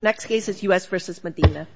Next case is U.S. v. Medina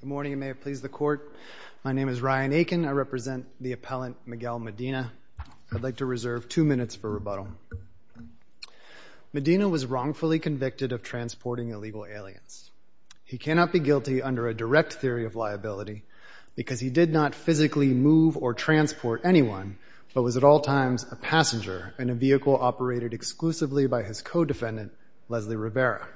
Good morning. You may have pleased the court. My name is Ryan Akin. I represent the appellant Miguel Medina. I'd like to reserve two minutes for rebuttal. Medina was wrongfully convicted of transporting illegal aliens. He cannot be guilty under a direct theory of liability because he did not physically move or transport anyone but was at all times a passenger in a vehicle operated exclusively by his co-defendant, Leslie Rivera.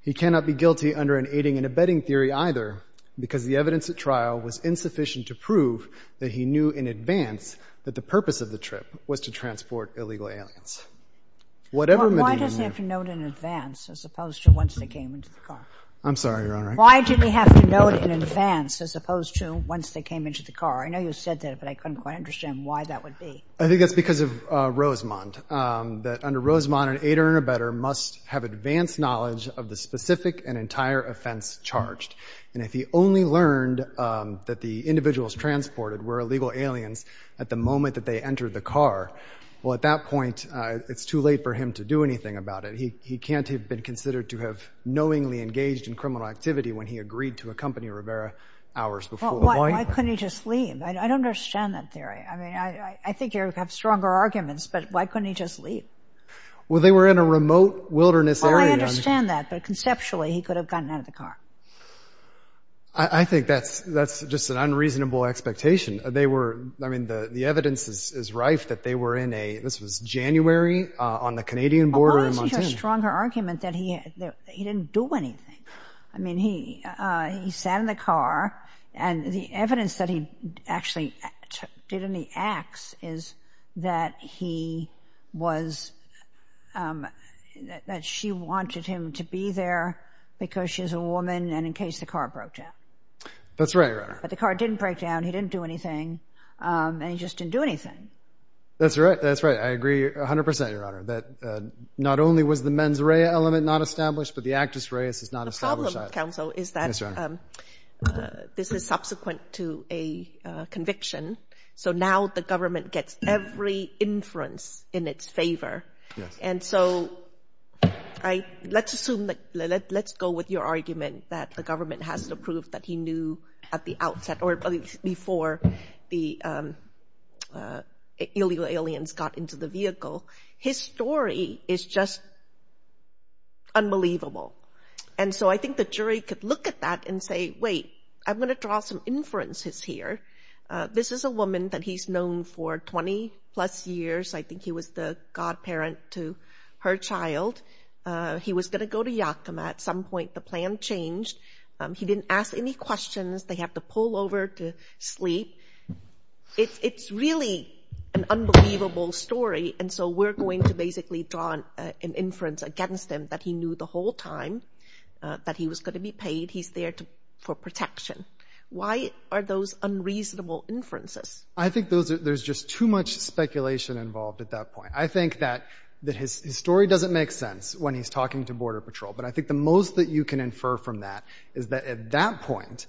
He cannot be guilty under an aiding and abetting theory either because the evidence at trial was insufficient to prove that he knew in advance that the purpose of the trip was to transport illegal aliens. Whatever Medina knew— Why does he have to know it in advance as opposed to once they came into the car? I'm sorry, Your Honor. Why did he have to know it in advance as opposed to once they came into the car? I know you said that, but I couldn't quite understand why that would be. I think that's because of Rosemont, that under Rosemont an aider and abetter must have advanced knowledge of the specific and entire offense charged. And if he only learned that the individuals transported were illegal aliens at the moment that they entered the car, well, at that point, it's too late for him to do anything about it. He can't have been considered to have knowingly engaged in criminal activity when he agreed to accompany Rivera hours before the violence. Why couldn't he just leave? I don't understand that theory. I mean, I think you have stronger arguments, but why couldn't he just leave? Well, they were in a remote wilderness area. Well, I understand that, but conceptually, he could have gotten out of the car. I think that's just an unreasonable expectation. They were—I mean, the evidence is rife that they were in a—this was January on the Canadian border in Montana. I think you have a stronger argument that he didn't do anything. I mean, he sat in the car, and the evidence that he actually did any acts is that he was—that she wanted him to be there because she's a woman and in case the car broke down. That's right, Your Honor. But the car didn't break down, he didn't do anything, and he just didn't do anything. That's right. That's right. I agree 100 percent, Your Honor, that not only was the mens rea element not established, but the actus reus is not established either. The problem, counsel, is that this is subsequent to a conviction, so now the government gets every inference in its favor, and so I—let's assume that—let's go with your argument that the government has to prove that he knew at the outset or before the illegal aliens got into the vehicle. His story is just unbelievable, and so I think the jury could look at that and say, wait, I'm going to draw some inferences here. This is a woman that he's known for 20-plus years. I think he was the godparent to her child. He was going to go to Yakima at some point. The plan changed. He didn't ask any questions. They have to pull over to sleep. It's really an unbelievable story, and so we're going to basically draw an inference against him that he knew the whole time that he was going to be paid. He's there for protection. Why are those unreasonable inferences? I think there's just too much speculation involved at that point. I think that his story doesn't make sense when he's talking to Border Patrol, but I think the most that you can infer from that is that at that point,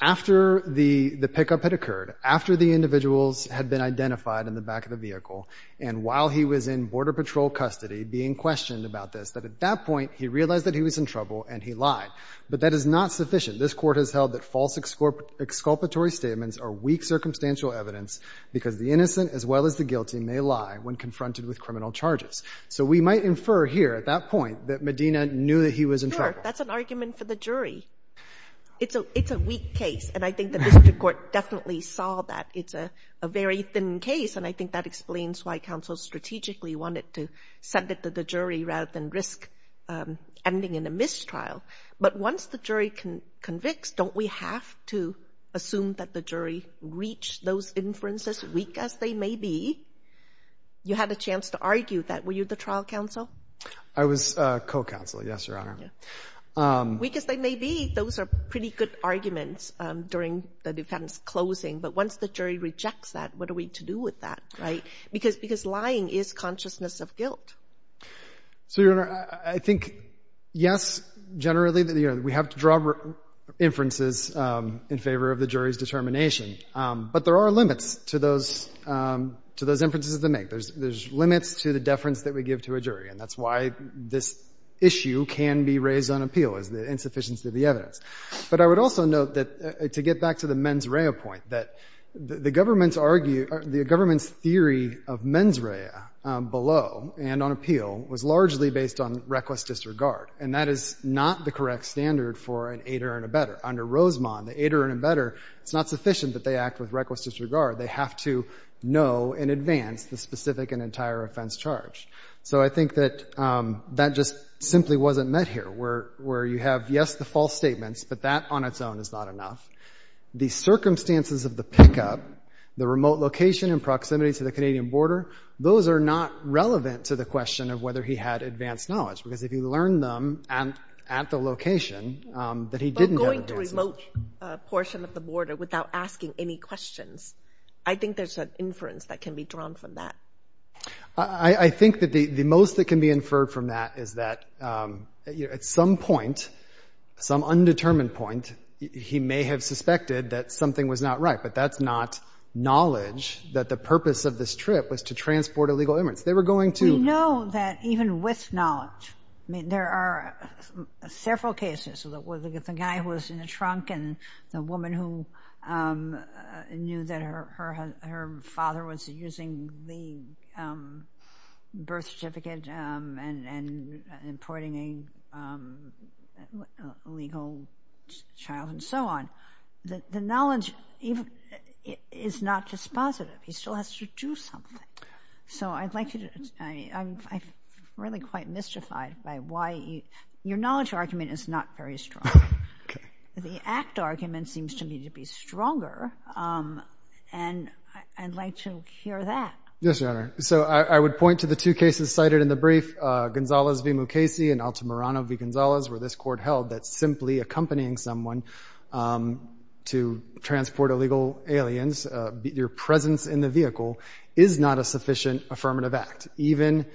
after the pickup had occurred, after the individuals had been identified in the back of the vehicle, and while he was in Border Patrol custody being questioned about this, that at that point, he realized that he was in trouble and he lied, but that is not sufficient. This Court has held that false exculpatory statements are weak circumstantial evidence because the innocent as well as the guilty may lie when I infer here, at that point, that Medina knew that he was in trouble. Sure. That's an argument for the jury. It's a weak case, and I think the district court definitely saw that. It's a very thin case, and I think that explains why counsel strategically wanted to send it to the jury rather than risk ending in a mistrial, but once the jury convicts, don't we have to assume that the jury reached those inferences, weak as they may be? You had a chance to argue that. Were you the trial counsel? I was co-counsel, yes, Your Honor. Weak as they may be, those are pretty good arguments during the defense closing, but once the jury rejects that, what are we to do with that, right? Because lying is consciousness of guilt. So, Your Honor, I think, yes, generally, we have to draw inferences in favor of the jury's determination, but there are limits to those inferences to make. There's limits to the deference that we give to a jury, and that's why this issue can be raised on appeal, is the insufficiency of the evidence. But I would also note that, to get back to the mens rea point, that the government's argue or the government's theory of mens rea below and on appeal was largely based on reckless disregard, and that is not the correct standard for an aider and abetter. Under Rosemont, the aider and abetter, it's not sufficient that they act with reckless disregard. They have to know in advance the specific and entire offense charge. So I think that that just simply wasn't met here, where you have, yes, the false statements, but that on its own is not enough. The circumstances of the pickup, the remote location and proximity to the Canadian border, those are not relevant to the question of whether he had advanced knowledge, because if you learn them at the location that he didn't have access to— He went to a remote portion of the border without asking any questions. I think there's an inference that can be drawn from that. I think that the most that can be inferred from that is that, at some point, some undetermined point, he may have suspected that something was not right, but that's not knowledge that the purpose of this trip was to transport a legal inference. They were going to— We know that even with knowledge—I mean, there are several cases of the guy who was in a trunk and the woman who knew that her father was using the birth certificate and importing a legal child and so on. The knowledge is not just positive. He still has to do something. So I'd like you to—I'm really quite mystified by why—your knowledge argument is not very strong, but the act argument seems to me to be stronger, and I'd like to hear that. Yes, Your Honor. So I would point to the two cases cited in the brief, Gonzales v. Mukasey and Altamirano v. Gonzales, where this court held that simply accompanying someone to transport illegal aliens, your presence in the vehicle, is not a sufficient affirmative act. Even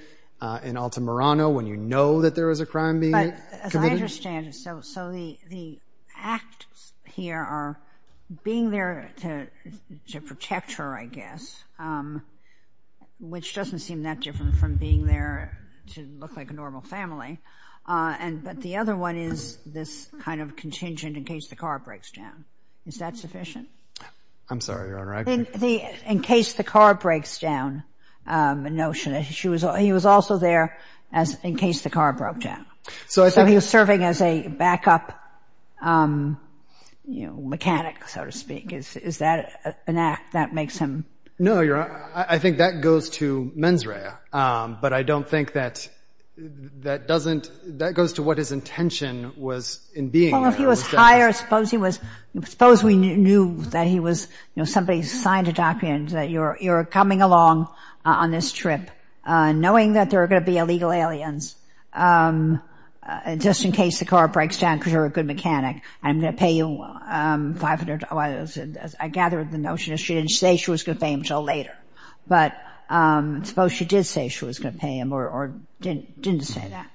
in Altamirano, when you know that there was a crime being committed— But as I understand it, so the acts here are being there to protect her, I guess, which doesn't seem that different from being there to look like a normal family, but the other one is this kind of contingent, in case the car breaks down. Is that sufficient? I'm sorry, Your Honor, I— In case the car breaks down, the notion that he was also there in case the car broke down. So he was serving as a backup, you know, mechanic, so to speak. Is that an act that makes him— No, Your Honor. I think that goes to mens rea, but I don't think that doesn't—that goes to what his intention was in being there. Well, if he was hired, suppose he was—suppose we knew that he was—you know, somebody signed a document that you're coming along on this trip, knowing that there are going to be illegal aliens, just in case the car breaks down because you're a good mechanic, I'm going to pay you $500. I gather the notion is she didn't say she was going to pay him until later, but suppose she did say she was going to pay him or didn't say that.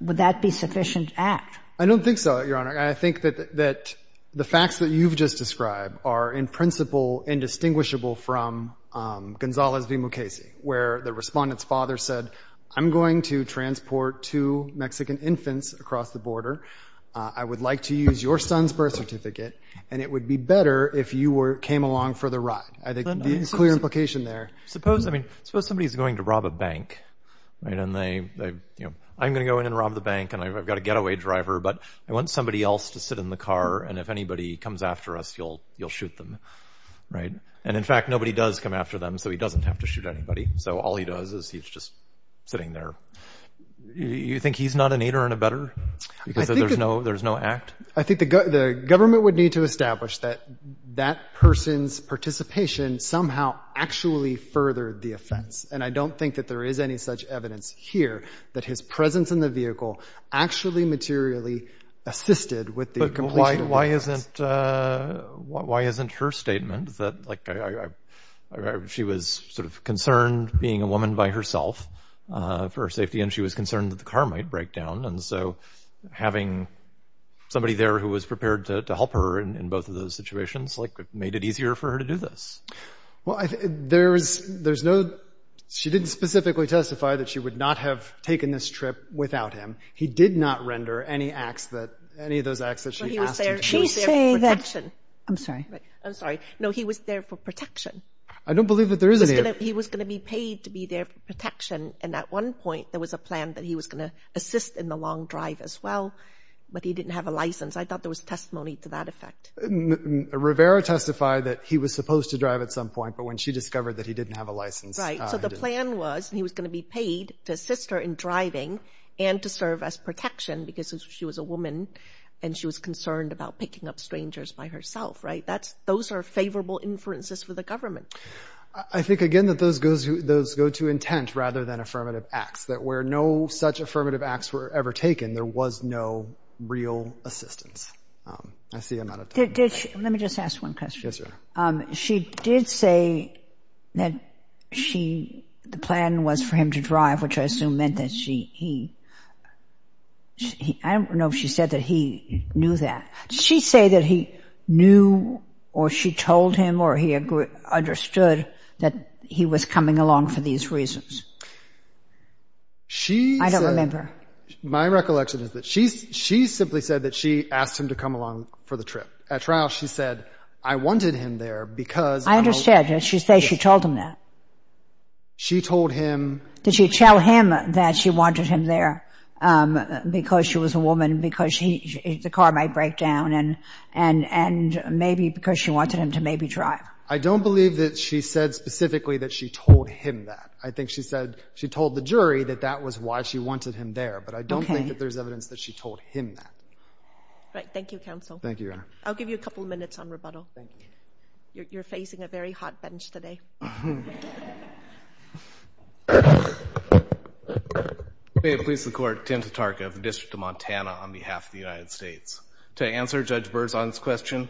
Would that be sufficient act? I don't think so, Your Honor. I think that the facts that you've just described are, in principle, indistinguishable from Gonzalez v. Mukasey, where the Respondent's father said, I'm going to transport two Mexican infants across the border. I would like to use your son's birth certificate, and it would be better if you came along for the ride. I think there's a clear implication there. Suppose somebody's going to rob a bank, and I'm going to go in and rob the bank, and I've got a getaway driver, but I want somebody else to sit in the car, and if anybody comes after us, you'll shoot them. And in fact, nobody does come after them, so he doesn't have to shoot anybody. So all he does is he's just sitting there. You think he's not an aider and abetter? Because there's no act? I think the government would need to establish that that person's participation somehow actually furthered the offense. And I don't think that there is any such evidence here that his presence in the vehicle actually materially assisted with the completion of the offense. But why isn't her statement that she was sort of concerned being a woman by herself for her safety, and she was concerned that the car might break down? And so having somebody there who was prepared to help her in both of those situations, like, made it easier for her to do this? Well, there's no—she didn't specifically testify that she would not have taken this trip without him. He did not render any acts that—any of those acts that she asked him to do. Well, he was there for protection. I'm sorry. I'm sorry. No, he was there for protection. I don't believe that there is any— He was going to be paid to be there for protection. And at one point, there was a plan that he was going to assist in the long drive as well, but he didn't have a license. I thought there was testimony to that effect. Rivera testified that he was supposed to drive at some point, but when she discovered that he didn't have a license— Right. So the plan was he was going to be paid to assist her in driving and to serve as protection because she was a woman and she was concerned about picking up strangers by herself, right? That's—those are favorable inferences for the government. I think, again, that those go to intent rather than affirmative acts, that where no such affirmative acts were ever taken, there was no real assistance. I see I'm out of time. Did she—let me just ask one question. Yes, Your Honor. She did say that she—the plan was for him to drive, which I assume meant that she—he—I don't know if she said that he knew that. Did she say that he knew or she told him or he understood that he was coming along for these reasons? She said— I don't remember. My recollection is that she simply said that she asked him to come along for the trip. At trial, she said, I wanted him there because— I understand. Did she say she told him that? She told him— Did she tell him that she wanted him there because she was a woman, because the car might I don't believe that she said specifically that she told him that. I think she said she told the jury that that was why she wanted him there, but I don't think that there's evidence that she told him that. Right. Thank you, counsel. Thank you, Your Honor. I'll give you a couple of minutes on rebuttal. You're facing a very hot bench today. May it please the Court, Tim Tatarka of the District of Montana on behalf of the United States Department of Justice.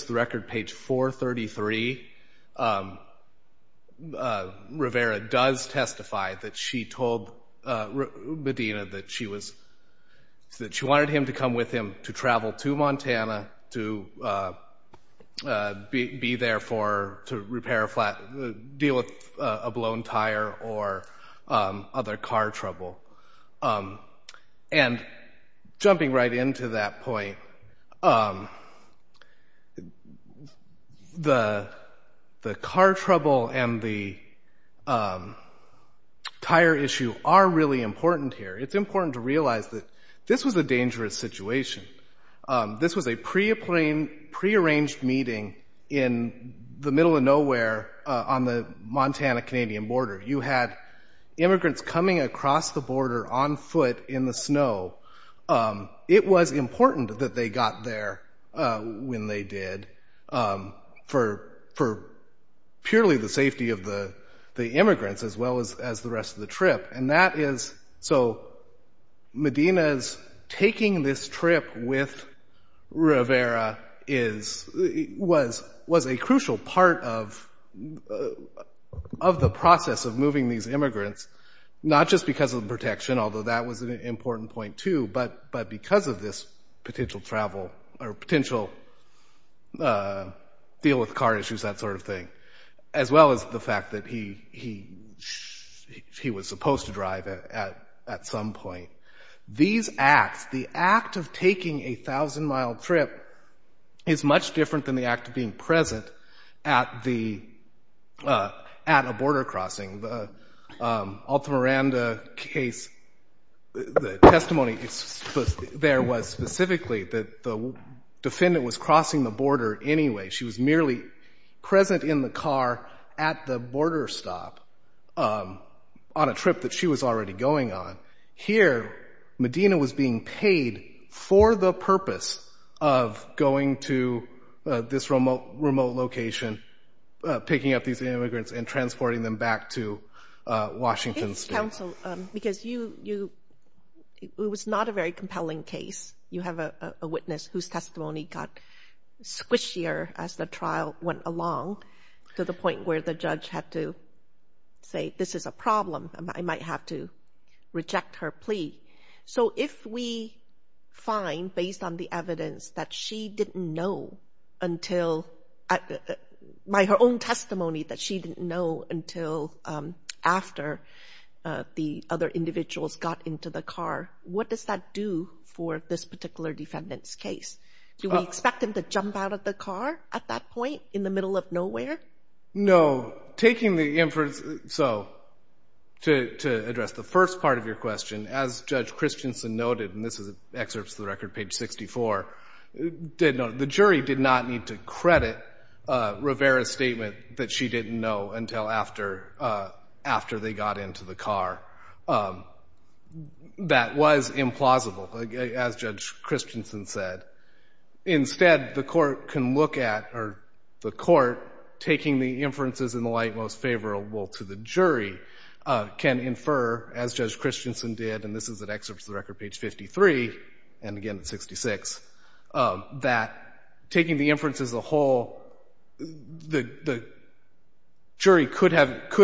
On record, page 433, Rivera does testify that she told Medina that she was—that she wanted him to come with him to travel to Montana to be there for—to repair a flat—deal with a blown tire or other car trouble. And jumping right into that point, the car trouble and the tire issue are really important here. It's important to realize that this was a dangerous situation. This was a prearranged meeting in the middle of nowhere on the Montana-Canadian border. You had immigrants coming across the border on foot in the snow. It was important that they got there when they did for purely the safety of the immigrants as well as the rest of the trip. And that is—so Medina's taking this trip with Rivera is—was a crucial part of the process of moving these immigrants, not just because of the protection, although that was an important point too, but because of this potential travel or potential deal with car issues, that sort of thing, as well as the fact that he was supposed to drive at some point. These acts, the act of taking a thousand-mile trip is much different than the act of being present at the—at a border crossing. The Alta Miranda case, the testimony there was specifically that the defendant was crossing the border anyway. She was merely present in the car at the border stop on a trip that she was already going on. Here, Medina was being paid for the purpose of going to this remote location, picking up these immigrants and transporting them back to Washington State. It's counsel—because you—it was not a very compelling case. You have a witness whose testimony got squishier as the trial went along to the point where the judge had to say this is a problem. I might have to reject her plea. So if we find, based on the evidence, that she didn't know until—by her own testimony, that she didn't know until after the other individuals got into the car, what does that do for this particular defendant's case? Do we expect him to jump out of the car at that point in the middle of nowhere? No. Taking the—so, to address the first part of your question, as Judge Christensen noted—and this is excerpts of the record, page 64—did note, the jury did not need to credit Rivera's statement that she didn't know until after they got into the car. That was implausible, as Judge Christensen said. Instead, the court can look at—or the court, taking the inferences in the light most favorable to the jury, can infer, as Judge Christensen did—and this is an excerpt from the record, page 53, and again at 66—that taking the inference as a whole, the jury could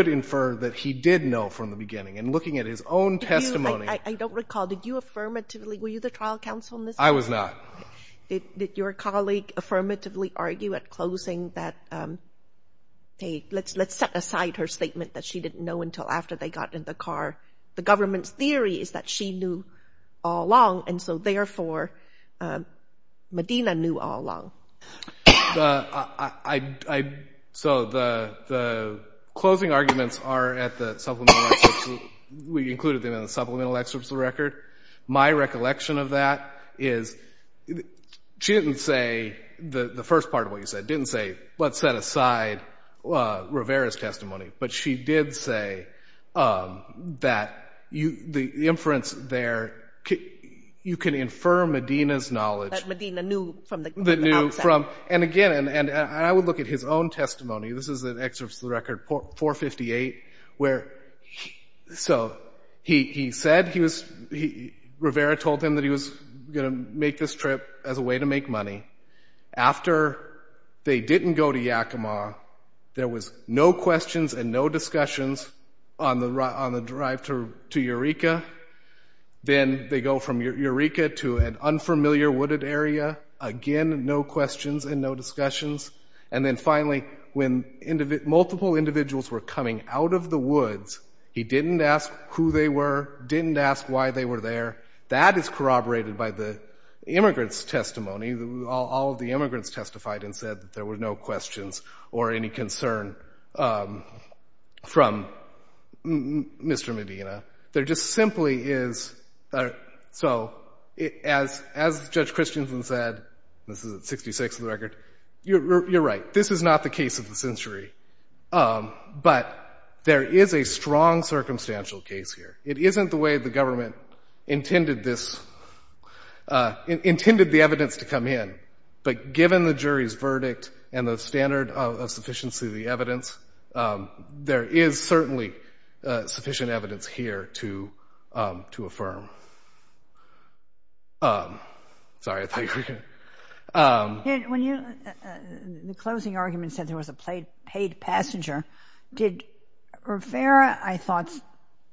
infer that he did know from the beginning. And looking at his own testimony— I don't recall. Did you affirmatively—were you the trial counsel in this case? I was not. Did your colleague affirmatively argue at closing that, hey, let's set aside her statement that she didn't know until after they got in the car? The government's theory is that she knew all along, and so, therefore, Medina knew all along. So the closing arguments are at the supplemental—we included them in the supplemental excerpts of the record. My recollection of that is, she didn't say—the first part of what you did say—that the inference there, you can infer Medina's knowledge— That Medina knew from the outset. And again, I would look at his own testimony. This is an excerpt from the record, 458, where he said he was—Rivera told him that he was going to make this trip as a way to make money. After they didn't go to Yakima, there was no questions and no discussions on the drive to Eureka. Then they go from Eureka to an unfamiliar wooded area. Again, no questions and no discussions. And then finally, when multiple individuals were coming out of the woods, he didn't ask who they were, didn't ask why they were there. That is corroborated by the immigrant's testimony. All of the immigrants testified and said that there were no questions or any concern from Mr. Medina. There just simply is—so, as Judge Christensen said—this is at 66 in the record—you're right. This is not the case of the century. But there is a strong circumstantial case here. It isn't the way the government intended this—intended the evidence to come in. But given the jury's verdict and the standard of sufficiency of the evidence, there is certainly sufficient evidence here to affirm. Sorry, I thought you were going to— When you—the closing argument said there was a paid passenger. Did Rivera, I thought,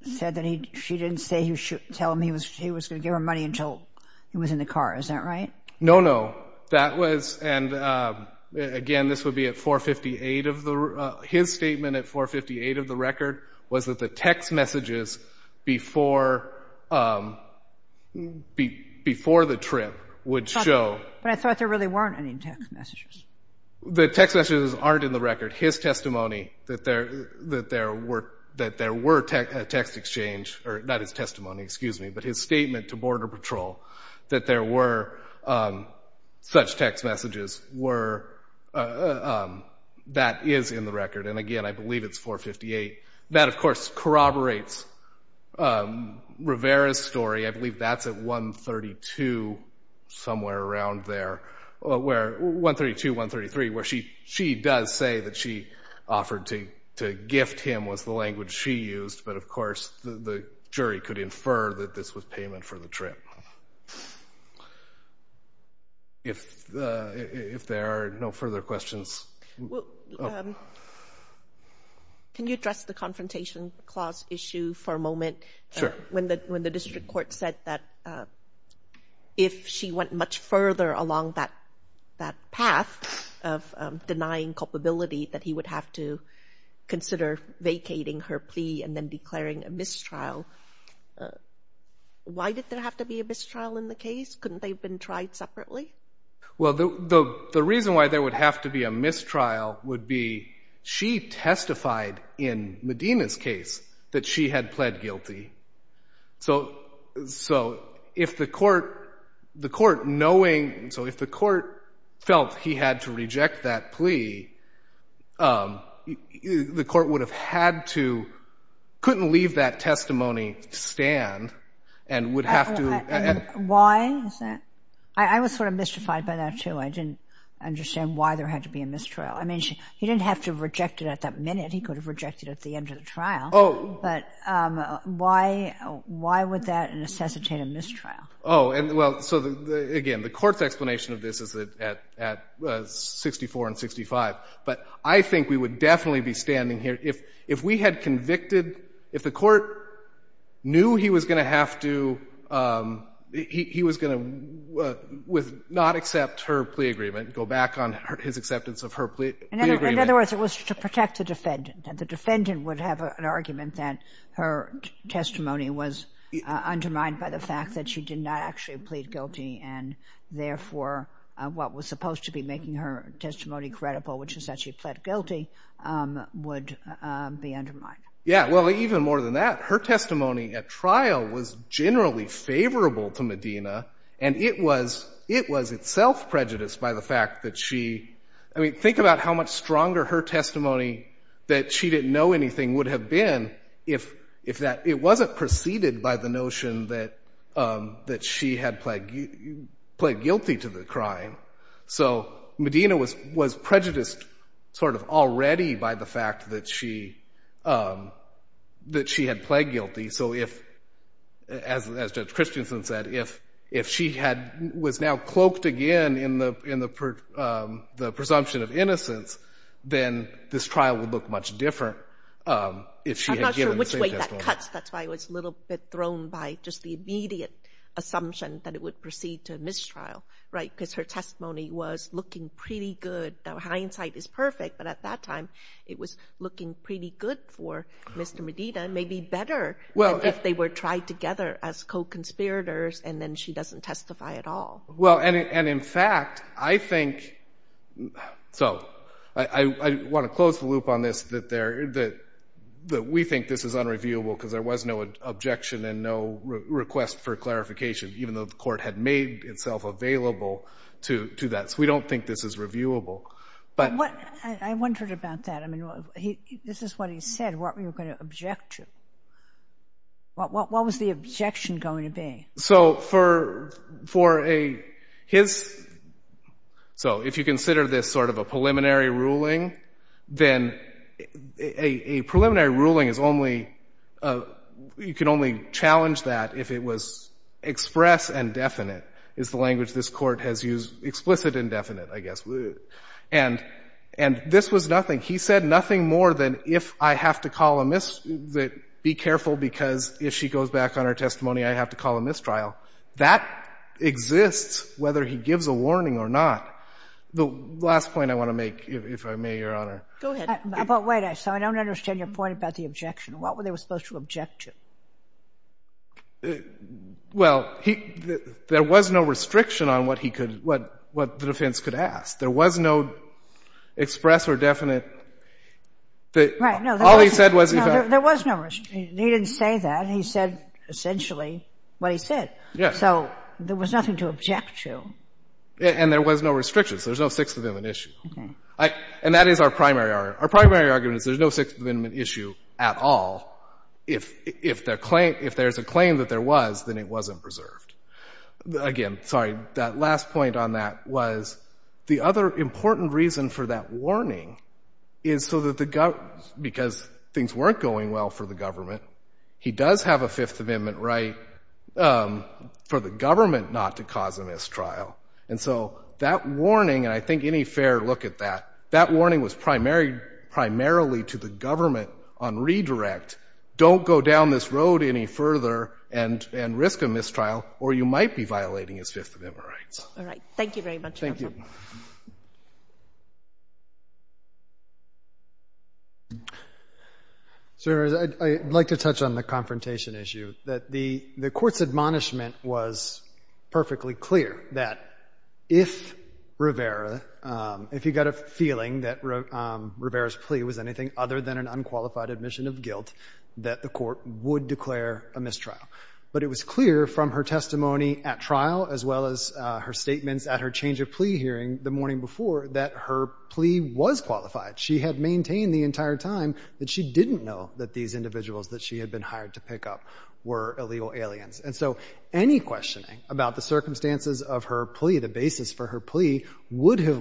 said that he—she didn't say he should—tell him he was going to give her money until he was in the car. Is that right? No, no. That was—and again, this would be at 458 of the—his statement at 458 of the record was that the text messages before the trip would show— But I thought there really weren't any text messages. The text messages aren't in the record. His testimony that there were text exchange—or not his testimony, excuse me—but his statement to Border Patrol that there were such text messages were—that is in the record. And again, I believe it's 458. That, of course, corroborates Rivera's story. I believe that's at 132, somewhere around there, where—132 133, where she does say that she offered to gift him was the language she used, but of course the jury could infer that this was payment for the trip. If there are no further questions— Can you address the confrontation clause issue for a moment? Sure. When the district court said that if she went much further along that path of denying culpability that he would have to consider vacating her plea and then declaring a mistrial, why did there have to be a mistrial in the case? Couldn't they have been tried separately? Well, the reason why there would have to be a mistrial would be she testified in Medina's case that she had pled guilty. So if the court—the court knowing—so if the court felt he had to reject that plea, the court would have had to—couldn't leave that testimony to stand and would have to— Why is that? I was sort of mystified by that, too. I didn't understand why there had to be a mistrial. I mean, he didn't have to reject it at that minute. He could have rejected it at the end of the trial. Oh. But why—why would that necessitate a mistrial? Oh. And, well, so, again, the court's explanation of this is at 64 and 65. But I think we would definitely be standing here—if we had convicted—if the court knew he was going to have to—he was going to not accept her plea agreement, go back on his acceptance of her plea agreement— The defendant would have an argument that her testimony was undermined by the fact that she did not actually plead guilty, and, therefore, what was supposed to be making her testimony credible, which is that she pled guilty, would be undermined. Yeah. Well, even more than that, her testimony at trial was generally favorable to Medina, and it was—it was itself prejudiced by the fact that she—I mean, think about how much anything would have been if that—it wasn't preceded by the notion that she had pled guilty to the crime. So Medina was prejudiced sort of already by the fact that she had pled guilty. So if, as Judge Christensen said, if she was now cloaked again in the presumption of innocence, then this trial would look much different if she had given the same testimony. I'm not sure which way that cuts. That's why I was a little bit thrown by just the immediate assumption that it would proceed to mistrial, right? Because her testimony was looking pretty good. Now, hindsight is perfect, but at that time, it was looking pretty good for Mr. Medina, maybe better than if they were tried together as co-conspirators, and then she doesn't testify at all. Well, and in fact, I think—so, I want to close the loop on this, that there—that we think this is unreviewable, because there was no objection and no request for clarification, even though the court had made itself available to that. So we don't think this is reviewable, but— I wondered about that. I mean, this is what he said, what we were going to object to. What was the objection going to be? So, for a—his—so, if you consider this sort of a preliminary ruling, then a preliminary ruling is only—you can only challenge that if it was express and definite, is the language this court has used—explicit and definite, I guess. And this was nothing. He said nothing more than, if I have to call a—be careful, because if she goes back on her testimony, I have to call a mistrial. That exists whether he gives a warning or not. The last point I want to make, if I may, Your Honor— Go ahead. But wait. So, I don't understand your point about the objection. What were they supposed to object to? Well, he—there was no restriction on what he could—what the defense could ask. There was no express or definite that— Right. No. No, there was no restriction. He didn't say that. He said, essentially, what he said. So, there was nothing to object to. And there was no restriction, so there's no Sixth Amendment issue. And that is our primary argument. Our primary argument is there's no Sixth Amendment issue at all. If there's a claim that there was, then it wasn't preserved. Again, sorry, that last point on that was the other important reason for that warning is so that the government— Because things weren't going well for the government. He does have a Fifth Amendment right for the government not to cause a mistrial. And so, that warning—and I think any fair look at that—that warning was primarily to the government on redirect. Don't go down this road any further and risk a mistrial, or you might be violating his Fifth Amendment rights. All right. Thank you very much, Your Honor. Thank you. So, Your Honor, I'd like to touch on the confrontation issue, that the Court's admonishment was perfectly clear that if Rivera, if he got a feeling that Rivera's plea was anything other than an unqualified admission of guilt, that the Court would declare a mistrial. But it was clear from her testimony at trial, as well as her statements at her change of plea hearing the morning before, that her plea was qualified. She had maintained the entire time that she didn't know that these individuals that she had been hired to pick up were illegal aliens. And so, any questioning about the circumstances of her plea, the basis for her plea, would have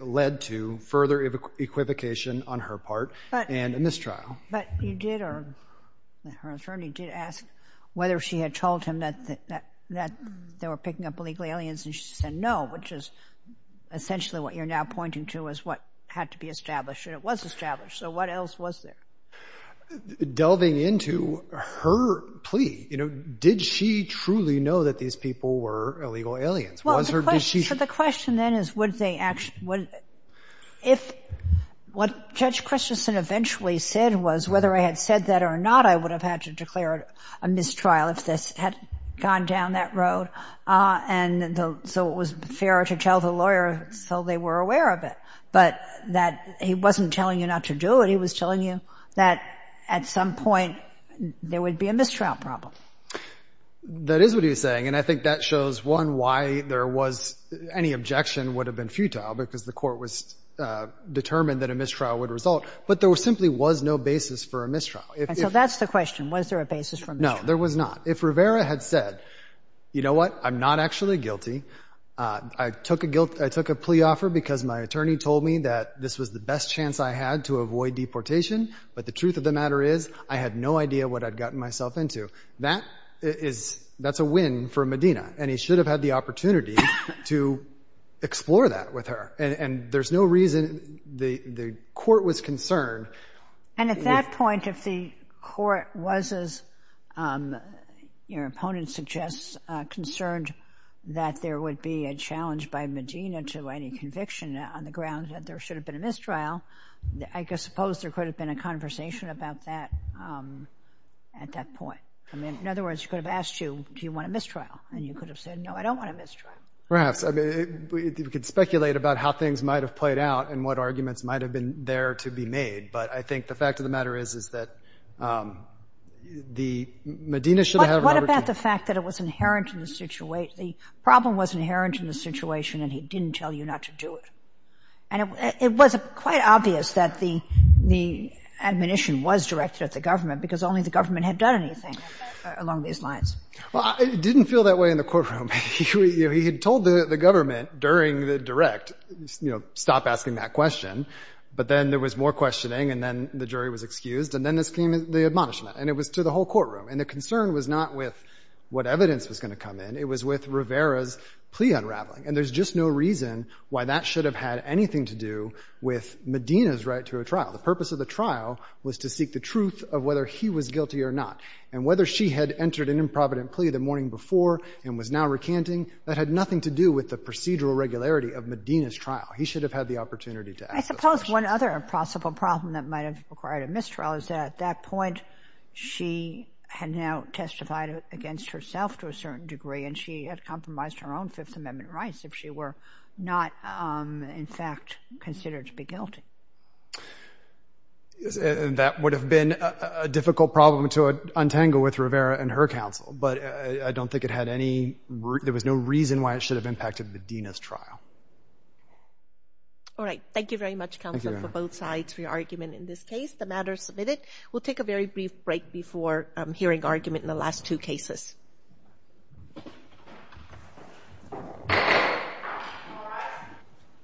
led to further equivocation on her part and a mistrial. But you did—or her attorney did ask whether she had told him that they were picking up illegal aliens, and she said no, which is essentially what you're now pointing to as what had to be established. And it was established. So what else was there? Delving into her plea, you know, did she truly know that these people were illegal aliens? Was or did she— Well, the question then is, would they—if what Judge Christensen eventually said was, whether I had said that or not, I would have had to declare a mistrial if this had gone down that road. And so it was fair to tell the lawyer so they were aware of it. But that he wasn't telling you not to do it. He was telling you that at some point there would be a mistrial problem. That is what he was saying, and I think that shows, one, why there was—any objection would have been futile, because the court was determined that a mistrial would result. But there simply was no basis for a mistrial. And so that's the question. Was there a basis for a mistrial? No, there was not. If Rivera had said, you know what, I'm not actually guilty. I took a plea offer because my attorney told me that this was the best chance I had to avoid deportation, but the truth of the matter is I had no idea what I'd gotten myself into. That's a win for Medina, and he should have had the opportunity to explore that with her. And there's no reason—the court was concerned. And at that point, if the court was, as your opponent suggests, concerned that there would be a challenge by Medina to any conviction on the ground that there should have been a mistrial, I suppose there could have been a conversation about that at that point. I mean, in other words, he could have asked you, do you want a mistrial? And you could have said, no, I don't want a mistrial. Perhaps. I mean, we could speculate about how things might have played out and what arguments might have been there to be made, but I think the fact of the matter is that Medina should have— The problem was inherent in the situation, and he didn't tell you not to do it. And it was quite obvious that the admonition was directed at the government because only the government had done anything along these lines. Well, it didn't feel that way in the courtroom. He had told the government during the direct, you know, stop asking that question, but then there was more questioning, and then the jury was excused, and then this came to the admonishment, and it was to the whole courtroom. And the concern was not with what evidence was going to come in. It was with Rivera's plea unraveling. And there's just no reason why that should have had anything to do with Medina's right to a trial. The purpose of the trial was to seek the truth of whether he was guilty or not. And whether she had entered an improvident plea the morning before and was now recanting, that had nothing to do with the procedural regularity of Medina's trial. He should have had the opportunity to ask the question. One other possible problem that might have required a mistrial is that at that point, she had now testified against herself to a certain degree, and she had compromised her own Fifth Amendment rights if she were not, in fact, considered to be guilty. That would have been a difficult problem to untangle with Rivera and her counsel, but I don't think it had any – there was no reason why it should have impacted Medina's trial. All right. Thank you very much, counsel, for both sides for your argument in this case. The matter is submitted. We'll take a very brief break before hearing argument in the last two cases.